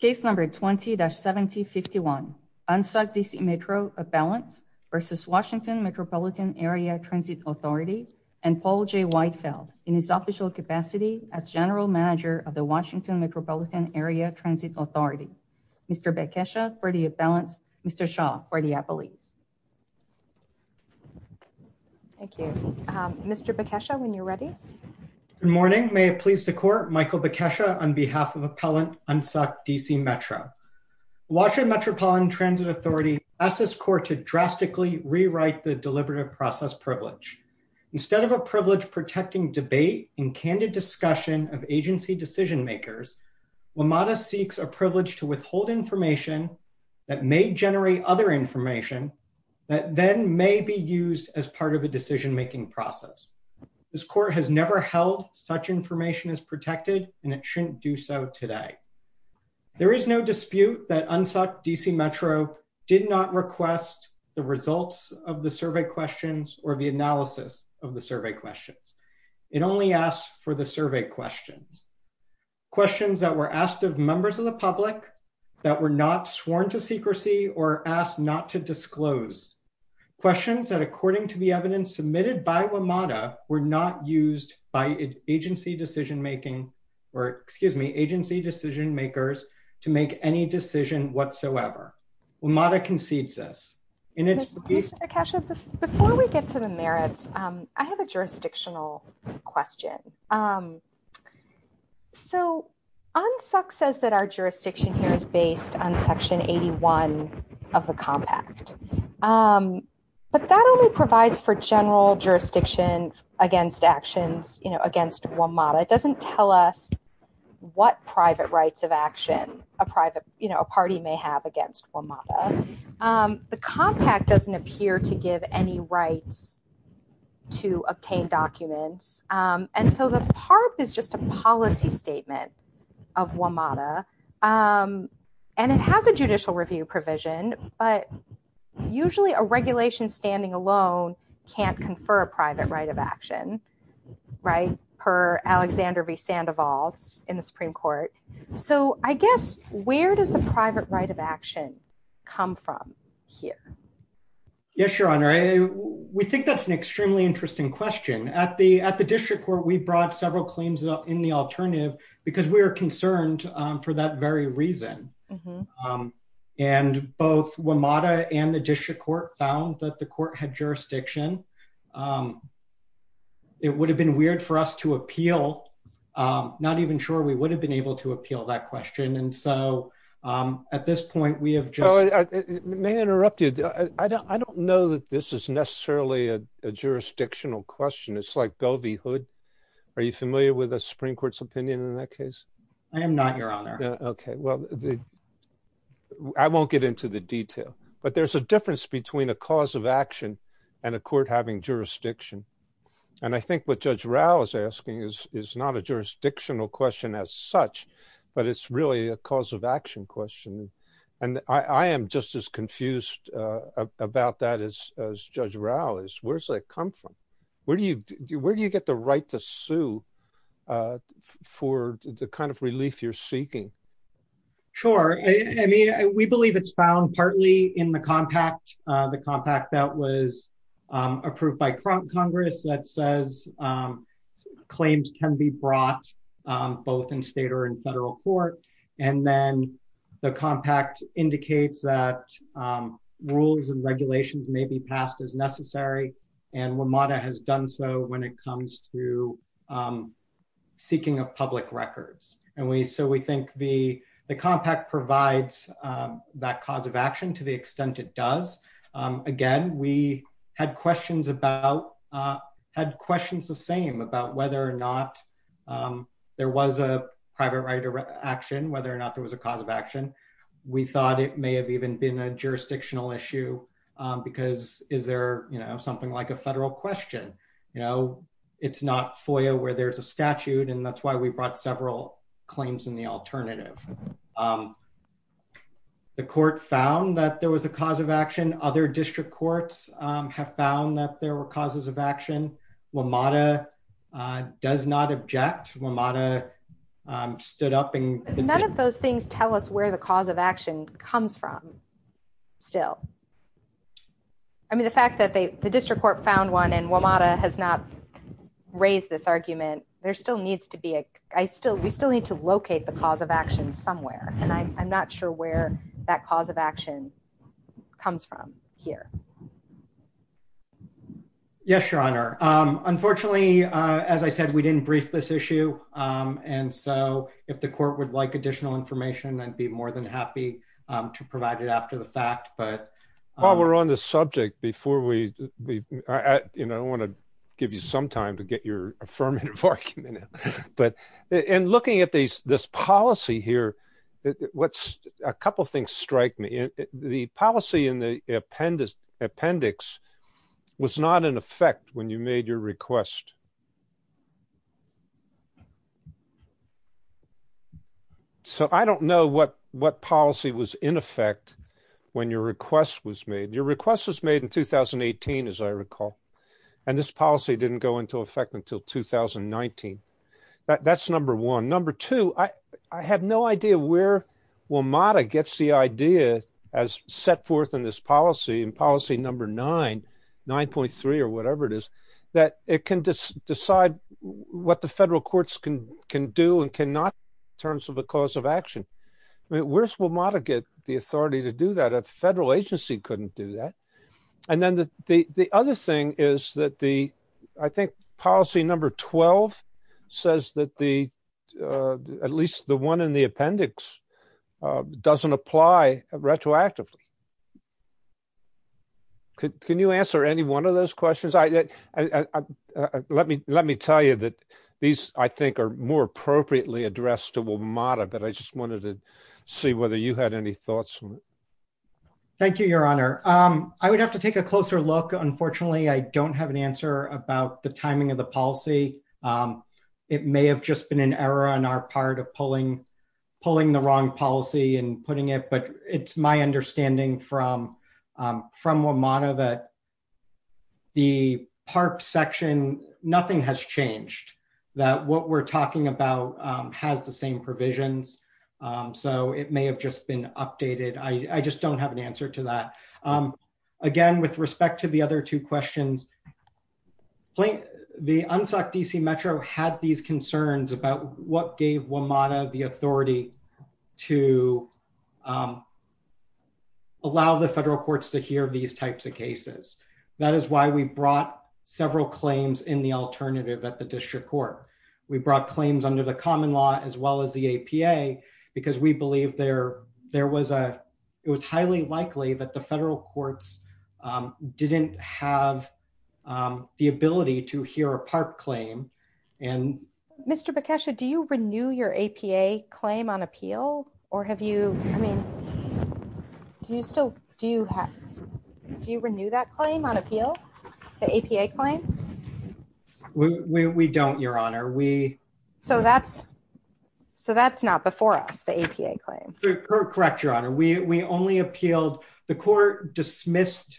v. WMATA, and Paul J. Whitefeld, in his official capacity as General Manager of the Washington Metropolitan Area Transit Authority. Mr. Bekesha, for the appellants. Mr. Shaw, for the appellees. Thank you. Mr. Bekesha, when you're ready. Good morning. May it please the Court, Michael Bekesha, on behalf of Appellant Unsuck DC Metro. Washington Metropolitan Transit Authority asks this Court to drastically rewrite the Deliberative Process Privilege. Instead of a privilege protecting debate and candid discussion of agency decision makers, WMATA seeks a privilege to withhold information that may generate other information that then may be used as part of a decision-making process. This Court has never held such information is protected and it shouldn't do so today. There is no dispute that Unsuck DC Metro did not request the results of the survey questions or the analysis of the survey questions. It only asked for the survey questions. Questions that were asked of members of the public that were not sworn to secrecy or asked not to disclose. Questions that according to the or excuse me, agency decision makers to make any decision whatsoever. WMATA concedes this. Before we get to the merits, I have a jurisdictional question. So, Unsuck says that our jurisdiction here is based on Section 81 of the Compact, but that only provides for general jurisdiction against actions, you know, against WMATA. It what private rights of action a private, you know, a party may have against WMATA. The Compact doesn't appear to give any rights to obtain documents and so the PARP is just a policy statement of WMATA and it has a judicial review provision, but usually a regulation standing alone can't confer a private right of action, right? Per Alexander V. Sandoval in the Supreme Court. So, I guess where does the private right of action come from here? Yes, Your Honor. We think that's an extremely interesting question. At the district court, we brought several claims up in the alternative because we are concerned for that very reason. And both WMATA and the district court found that the court had jurisdiction. It would have been weird for us to appeal, not even sure we would have been able to appeal that question. And so, at this point, we have just- May I interrupt you? I don't know that this is necessarily a jurisdictional question. It's like Govey Hood. Are you familiar with the Supreme Court's opinion in that case? I am not, Your Honor. Okay. Well, I won't get into the detail, but there's a difference between a cause of action and a court having jurisdiction. And I think what Judge Rao is asking is not a jurisdictional question as such, but it's really a cause of action question. And I am just as confused about that as Judge Rao is. Where does that come from? Where do you get the right to sue for the kind of relief you're seeking? Sure. We believe it's found partly in the compact, the compact that was approved by Congress that says claims can be brought both in state or in federal court. And then the compact indicates that rules and regulations may be passed as necessary. And WMATA has done so when it comes to seeking of public records. And so, we think the compact provides that cause of action to the extent it does. Again, we had questions the same about whether or not there was a private right to action, whether or not there was a cause of action. We thought it may have even been a jurisdictional issue because is there something like a federal question? It's not FOIA where there's a statute, and that's why we brought several claims in the alternative. The court found that there was a cause of action. Other district courts have found that there were causes of action. WMATA does not object. WMATA stood up and- None of those things tell us where the cause of action comes from still. I mean, the fact that the district court found one and WMATA has not raised this argument, we still need to locate the cause of action somewhere. And I'm not sure where that cause of action comes from here. Yes, Your Honor. Unfortunately, as I said, we didn't brief this issue. And so, if the court would like additional information, I'd be more than happy to provide it after the fact, but- Well, we're on the subject before we... I want to give you some time to get your affirmative argument in. And looking at this policy here, a couple of things strike me. The policy in the appendix was not in effect when you made your request. So, I don't know what policy was in effect when your request was made. Your request was made in 2018, as I recall, and this policy didn't go into effect until 2019. That's number one. Number two, I have no idea where WMATA gets the idea as set forth in this policy, in policy number nine, 9.3 or whatever it is, that it can decide what the federal courts can do and cannot in terms of the cause of action. I mean, where's WMATA get the authority to do that? A federal agency couldn't do that. And then the other thing is that the, I think, policy number 12 says that at least the one in the appendix doesn't apply retroactively. Can you answer any one of those questions? Let me tell you that these, I think, are more appropriately addressed to WMATA, but I just wanted to see whether you had any thoughts. Thank you, your honor. I would have to take a closer look. Unfortunately, I don't have an answer about the timing of the policy. It may have just been an error on our part of pulling the wrong policy and putting it, but it's my understanding from WMATA that the PARP section, nothing has changed, that what we're talking about has the same provisions. So it may have just been updated. I just don't have an answer to that. Again, with respect to the other two questions, the UNSOC DC Metro had these concerns about what gave WMATA the authority to allow the federal courts to hear these types of cases. That is why we brought several claims in the alternative at the district court. We brought claims under the common law as well as the APA, because we believe there was a, it was highly likely that the federal courts didn't have the ability to hear a PARP claim. Mr. Bekesha, do you renew your APA claim on appeal or have you, I mean, do you still, do you renew that claim on appeal, the APA claim? We don't, your honor. So that's not before us, the APA claim. Correct, your honor. We only appealed, the court dismissed,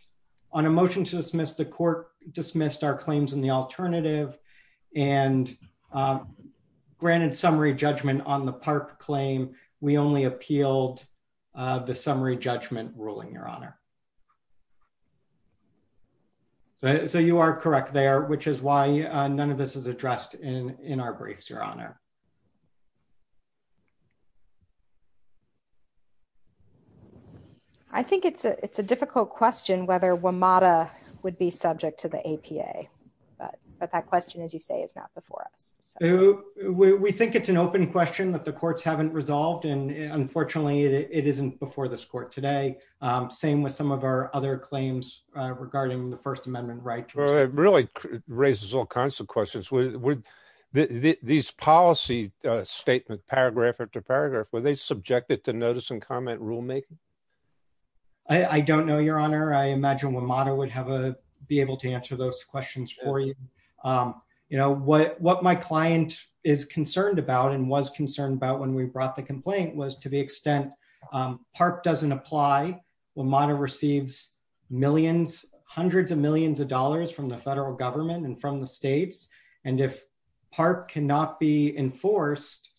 on a motion to dismiss, the court dismissed our claims in the alternative and granted summary judgment on the PARP claim. We only appealed the summary judgment ruling, your honor. So you are correct there, which is why none of this is addressed in our briefs, your honor. I think it's a, it's a difficult question whether WMATA would be subject to the APA, but that question, as you say, is not before us. We think it's an open question that the courts haven't resolved and unfortunately it isn't before this court today. Same with some of our other claims regarding the first amendment right. Well, it really raises all kinds of questions. These policy statement, paragraph after paragraph, were they subjected to notice and comment rulemaking? I don't know, your honor. I imagine WMATA would have a, be able to answer those questions for you. You know, what my client is concerned about and was concerned about when we brought the complaint was to the extent PARP doesn't apply, WMATA receives millions, hundreds of millions of dollars from the federal government and from the states. And if PARP cannot be enforced,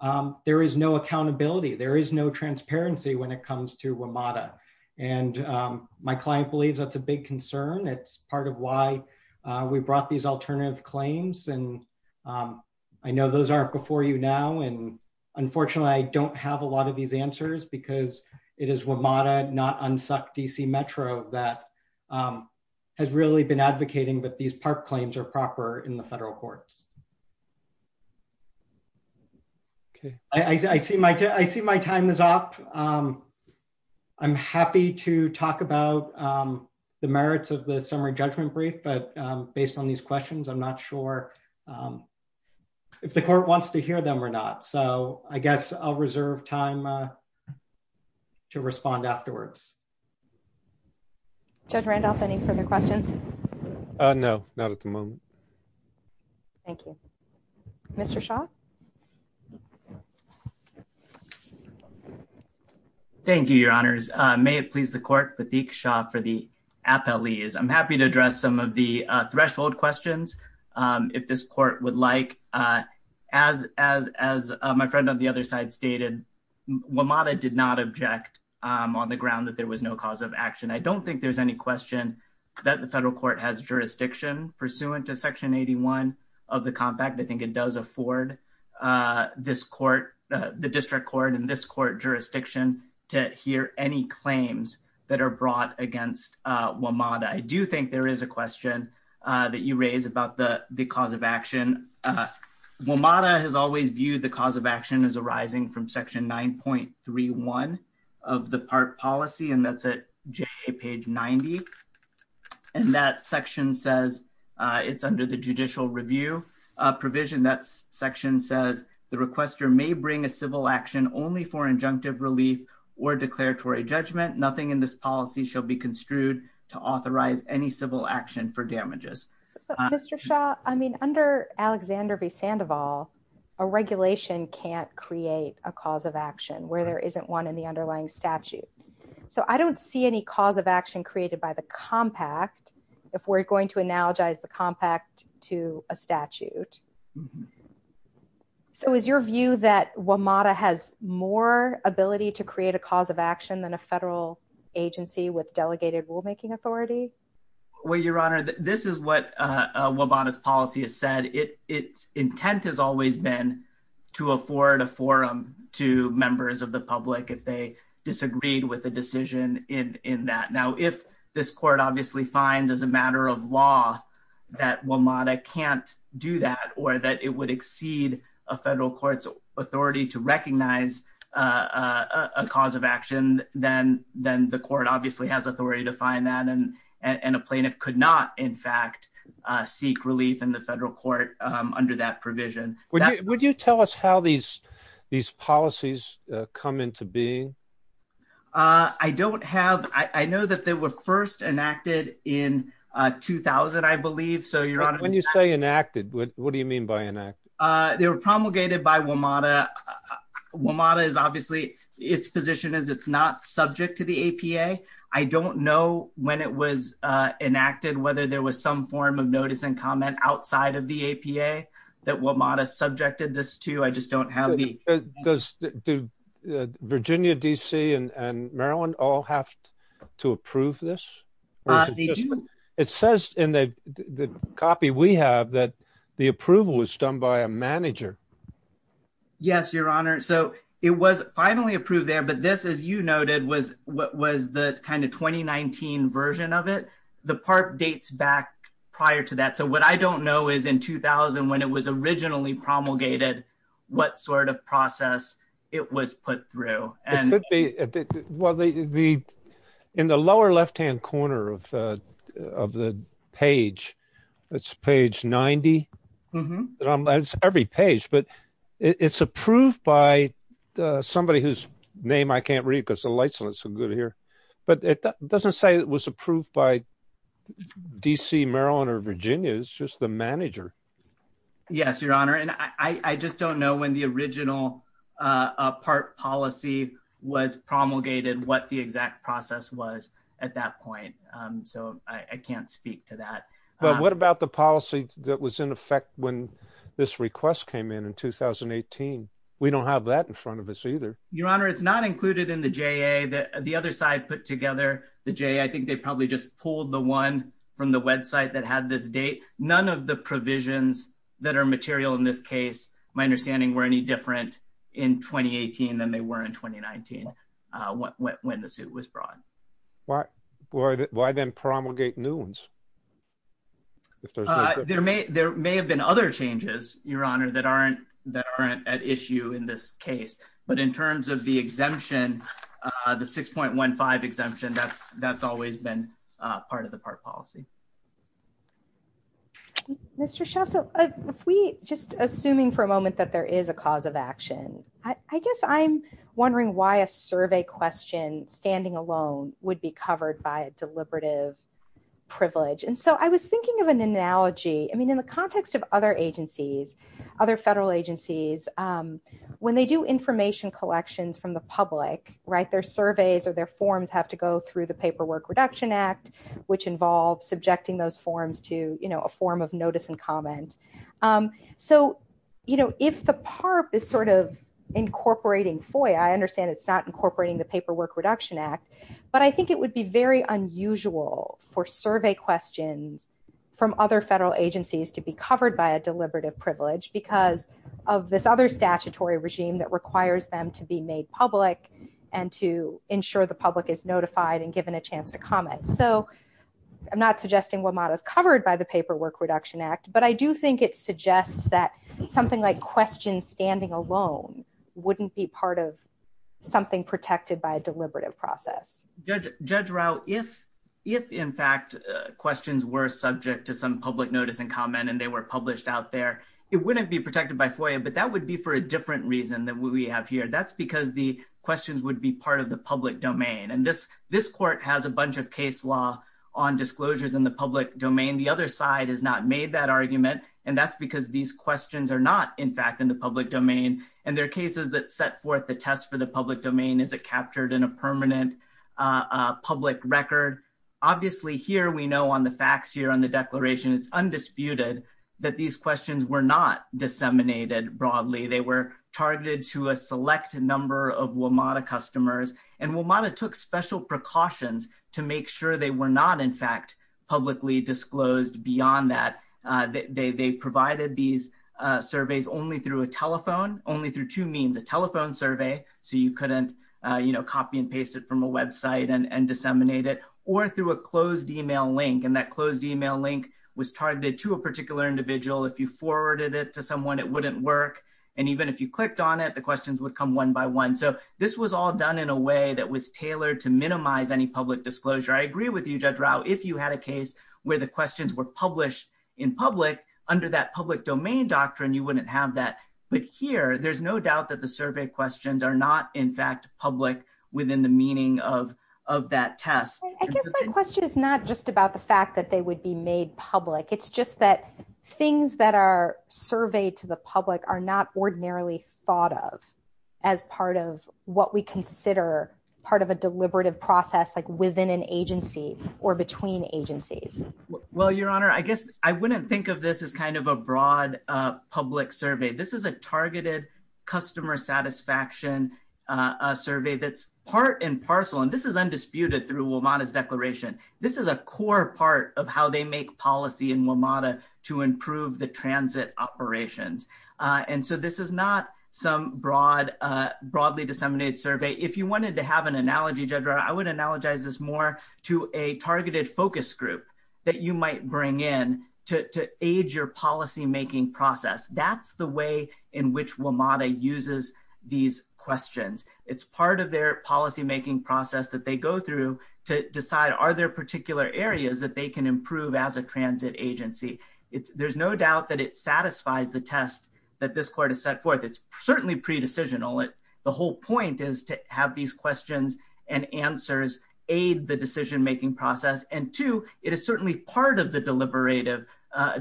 um, there is no accountability. There is no transparency when it comes to WMATA. And, um, my client believes that's a big concern. It's part of why we brought these alternative claims. And, um, I know those aren't before you now. And unfortunately I don't have a lot of these answers because it is WMATA not UNSUCC DC Metro that, um, has really been advocating, but these PARP claims are proper in the federal courts. Okay. I see my, I see my time is up. Um, I'm happy to talk about, um, the merits of the summary judgment brief, but, um, based on these questions, I'm not sure, um, if the court wants to hear them or not. So I guess I'll reserve time, uh, to respond afterwards. Judge Randolph, any further questions? Uh, no, not at the moment. Thank you. Mr. Shah. Thank you, your honors. Uh, may it please the court, Pateek Shah for the appellees. I'm happy to address some of the, uh, threshold questions. Um, if this court would like, uh, as, as, as, uh, my friend on the other side stated, WMATA did not object, um, on the ground that there was no cause of action. I don't think there's any question that the federal court has pursuant to section 81 of the compact. I think it does afford, uh, this court, uh, the district court and this court jurisdiction to hear any claims that are brought against, uh, WMATA. I do think there is a question, uh, that you raise about the, the cause of action. Uh, WMATA has always viewed the cause of action as arising from section 9.31 of the PARP policy. And that's at page 90. And that section says, uh, it's under the judicial review, uh, provision that section says the requester may bring a civil action only for injunctive relief or declaratory judgment. Nothing in this policy shall be construed to authorize any civil action for damages. Mr. Shah, I mean, under Alexander v. Sandoval, a regulation can't create a cause of action where there isn't one in the underlying statute. So I don't see any cause of action created by the compact if we're going to analogize the compact to a statute. So is your view that WMATA has more ability to create a cause of action than a federal agency with delegated rulemaking authority? Well, Your Honor, this is what, uh, WMATA's policy has said. It, its intent has always been to afford a forum to members of the public if they disagreed with a decision in, in that. Now, if this court obviously finds as a matter of law that WMATA can't do that or that it would exceed a federal court's authority to recognize, uh, a cause of action, then, then the court obviously has authority to find that. And, and a plaintiff could not in fact, uh, seek relief in the federal court, um, under that provision. Would you, would you tell us how these, these policies, uh, come into being? Uh, I don't have, I know that they were first enacted in, uh, 2000, I believe. So Your Honor. When you say enacted, what do you mean by enacted? Uh, they were promulgated by WMATA. WMATA is obviously, its position is it's not subject to the APA. I don't know when it was, uh, enacted, whether there was some form of notice and comment outside of the APA that WMATA subjected this to, I just don't have the... Does Virginia DC and Maryland all have to approve this? It says in the copy we have that the approval was done by a manager. Yes, Your Honor. So it was finally approved there, but this, as you noted, was what was the kind of is in 2000 when it was originally promulgated, what sort of process it was put through? It could be. Well, the, the, in the lower left-hand corner of, uh, of the page, that's page 90. It's every page, but it's approved by somebody whose name I can't read because the lights aren't so good here, but it doesn't say it was approved by DC, Maryland, Virginia. It's just the manager. Yes, Your Honor. And I, I just don't know when the original, uh, part policy was promulgated, what the exact process was at that point. Um, so I can't speak to that. But what about the policy that was in effect when this request came in, in 2018? We don't have that in front of us either. Your Honor, it's not included in the JA that the other side put together the JA. I think they probably just pulled the one from the website that had this date. None of the provisions that are material in this case, my understanding, were any different in 2018 than they were in 2019, uh, when, when the suit was brought. Why, why, why then promulgate new ones? There may, there may have been other changes, Your Honor, that aren't, that aren't at issue in this case, but in terms of the exemption, uh, the 6.15 exemption, that's, that's always been, uh, part of the part policy. Mr. Shaw, so if we just assuming for a moment that there is a cause of action, I guess I'm wondering why a survey question standing alone would be covered by a deliberative privilege. And so I was thinking of an analogy, I mean, the context of other agencies, other federal agencies, um, when they do information collections from the public, right, their surveys or their forms have to go through the Paperwork Reduction Act, which involves subjecting those forms to, you know, a form of notice and comment. Um, so, you know, if the PARP is sort of incorporating FOIA, I understand it's not incorporating the Paperwork Reduction Act, but I think it would be very unusual for survey questions from other federal agencies to be covered by a deliberative privilege because of this other statutory regime that requires them to be made public and to ensure the public is notified and given a chance to comment. So I'm not suggesting WMATA is covered by the Paperwork Reduction Act, but I do think it suggests that something like questions standing alone wouldn't be part of something protected by a deliberative process. Judge Rao, if in fact questions were subject to some public notice and comment and they were published out there, it wouldn't be protected by FOIA, but that would be for a different reason than what we have here. That's because the questions would be part of the public domain. And this court has a bunch of case law on disclosures in the public domain. The other side has not made that argument, and that's because these questions are not, in fact, in the public domain. And there are cases that set forth the test for the public domain. Is it captured in a permanent public record? Obviously, here we know on the facts here on the declaration, it's undisputed that these questions were not disseminated broadly. They were targeted to a select number of WMATA customers, and WMATA took special precautions to make sure they were not, in fact, publicly disclosed beyond that. They provided these copy and paste it from a website and disseminate it, or through a closed email link. And that closed email link was targeted to a particular individual. If you forwarded it to someone, it wouldn't work. And even if you clicked on it, the questions would come one by one. So this was all done in a way that was tailored to minimize any public disclosure. I agree with you, Judge Rao, if you had a case where the questions were published in public, under that public domain doctrine, you wouldn't have that. But here, there's no doubt that the within the meaning of that test. I guess my question is not just about the fact that they would be made public. It's just that things that are surveyed to the public are not ordinarily thought of as part of what we consider part of a deliberative process, like within an agency or between agencies. Well, Your Honor, I guess I wouldn't think of this as kind of a broad public survey. This is a targeted customer satisfaction survey that's part and parcel. And this is undisputed through WMATA's declaration. This is a core part of how they make policy in WMATA to improve the transit operations. And so this is not some broadly disseminated survey. If you wanted to have an analogy, Judge Rao, I would analogize this more to a targeted focus group that you might bring in to aid your policymaking process. That's the way in which WMATA uses these questions. It's part of their policymaking process that they go through to decide are there particular areas that they can improve as a transit agency. There's no doubt that it satisfies the test that this court has set forth. It's part of the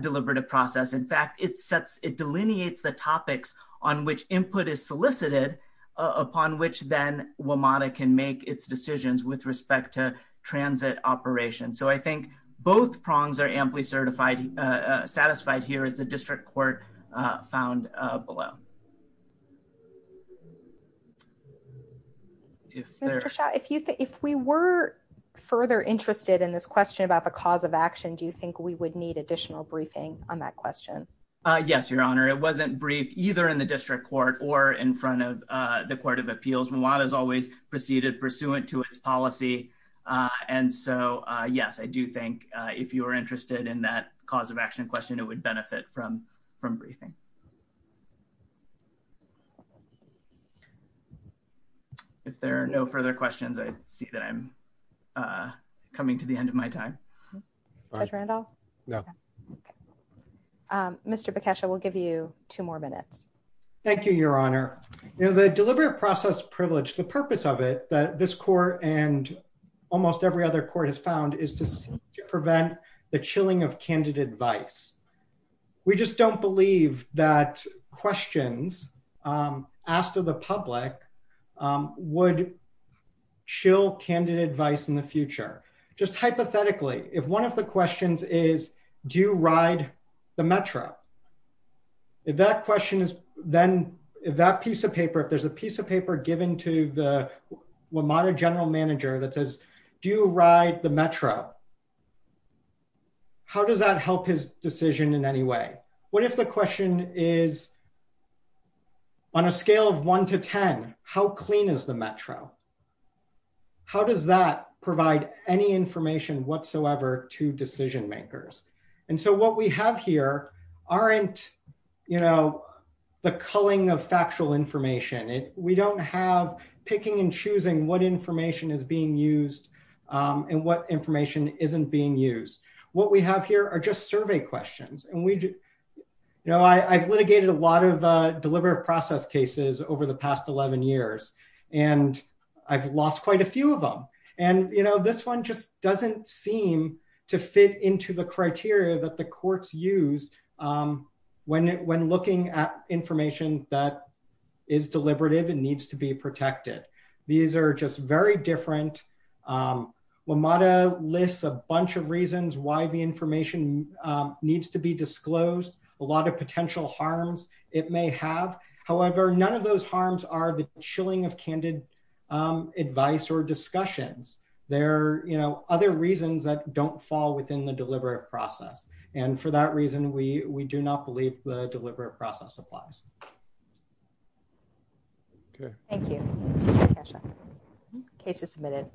deliberative process. In fact, it delineates the topics on which input is solicited upon which then WMATA can make its decisions with respect to transit operations. So I think both prongs are amply satisfied here as the district court found below. If we were further interested in this question about the cause of action, do you think we would need additional briefing on that question? Yes, Your Honor. It wasn't briefed either in the district court or in front of the Court of Appeals. WMATA has always proceeded pursuant to its policy. And so yes, I do think if you were interested in that cause of action question, it would benefit from briefing. If there are no further questions, I see that I'm coming to the end of my time. Judge Randolph? No. Mr. Bekesha, we'll give you two more minutes. Thank you, Your Honor. The deliberate process privilege, the purpose of it that this court and almost every other court has found is to prevent the chilling of candidate advice. We just don't believe that questions asked to the public would chill candidate advice in the future. Just hypothetically, if one of the questions is, do you ride the Metro? If that question is, then that piece of paper, if there's a piece of paper given to the WMATA general manager that do you ride the Metro? How does that help his decision in any way? What if the question is, on a scale of one to 10, how clean is the Metro? How does that provide any information whatsoever to decision makers? And so what we have here aren't the culling of factual information. We don't have picking and choosing what information is being used and what information isn't being used. What we have here are just survey questions. I've litigated a lot of deliberate process cases over the past 11 years, and I've lost quite a few of them. And this one just doesn't seem to fit into the criteria that the courts use when looking at information that is deliberative and needs to be protected. These are just very different. WMATA lists a bunch of reasons why the information needs to be disclosed, a lot of potential harms it may have. However, none of those harms are the chilling of candidate advice or discussions. There are other reasons that don't fall within the deliberative process. And for that reason, we do not believe the deliberative process applies. Okay. Thank you. Mr. Kasha. Case is submitted.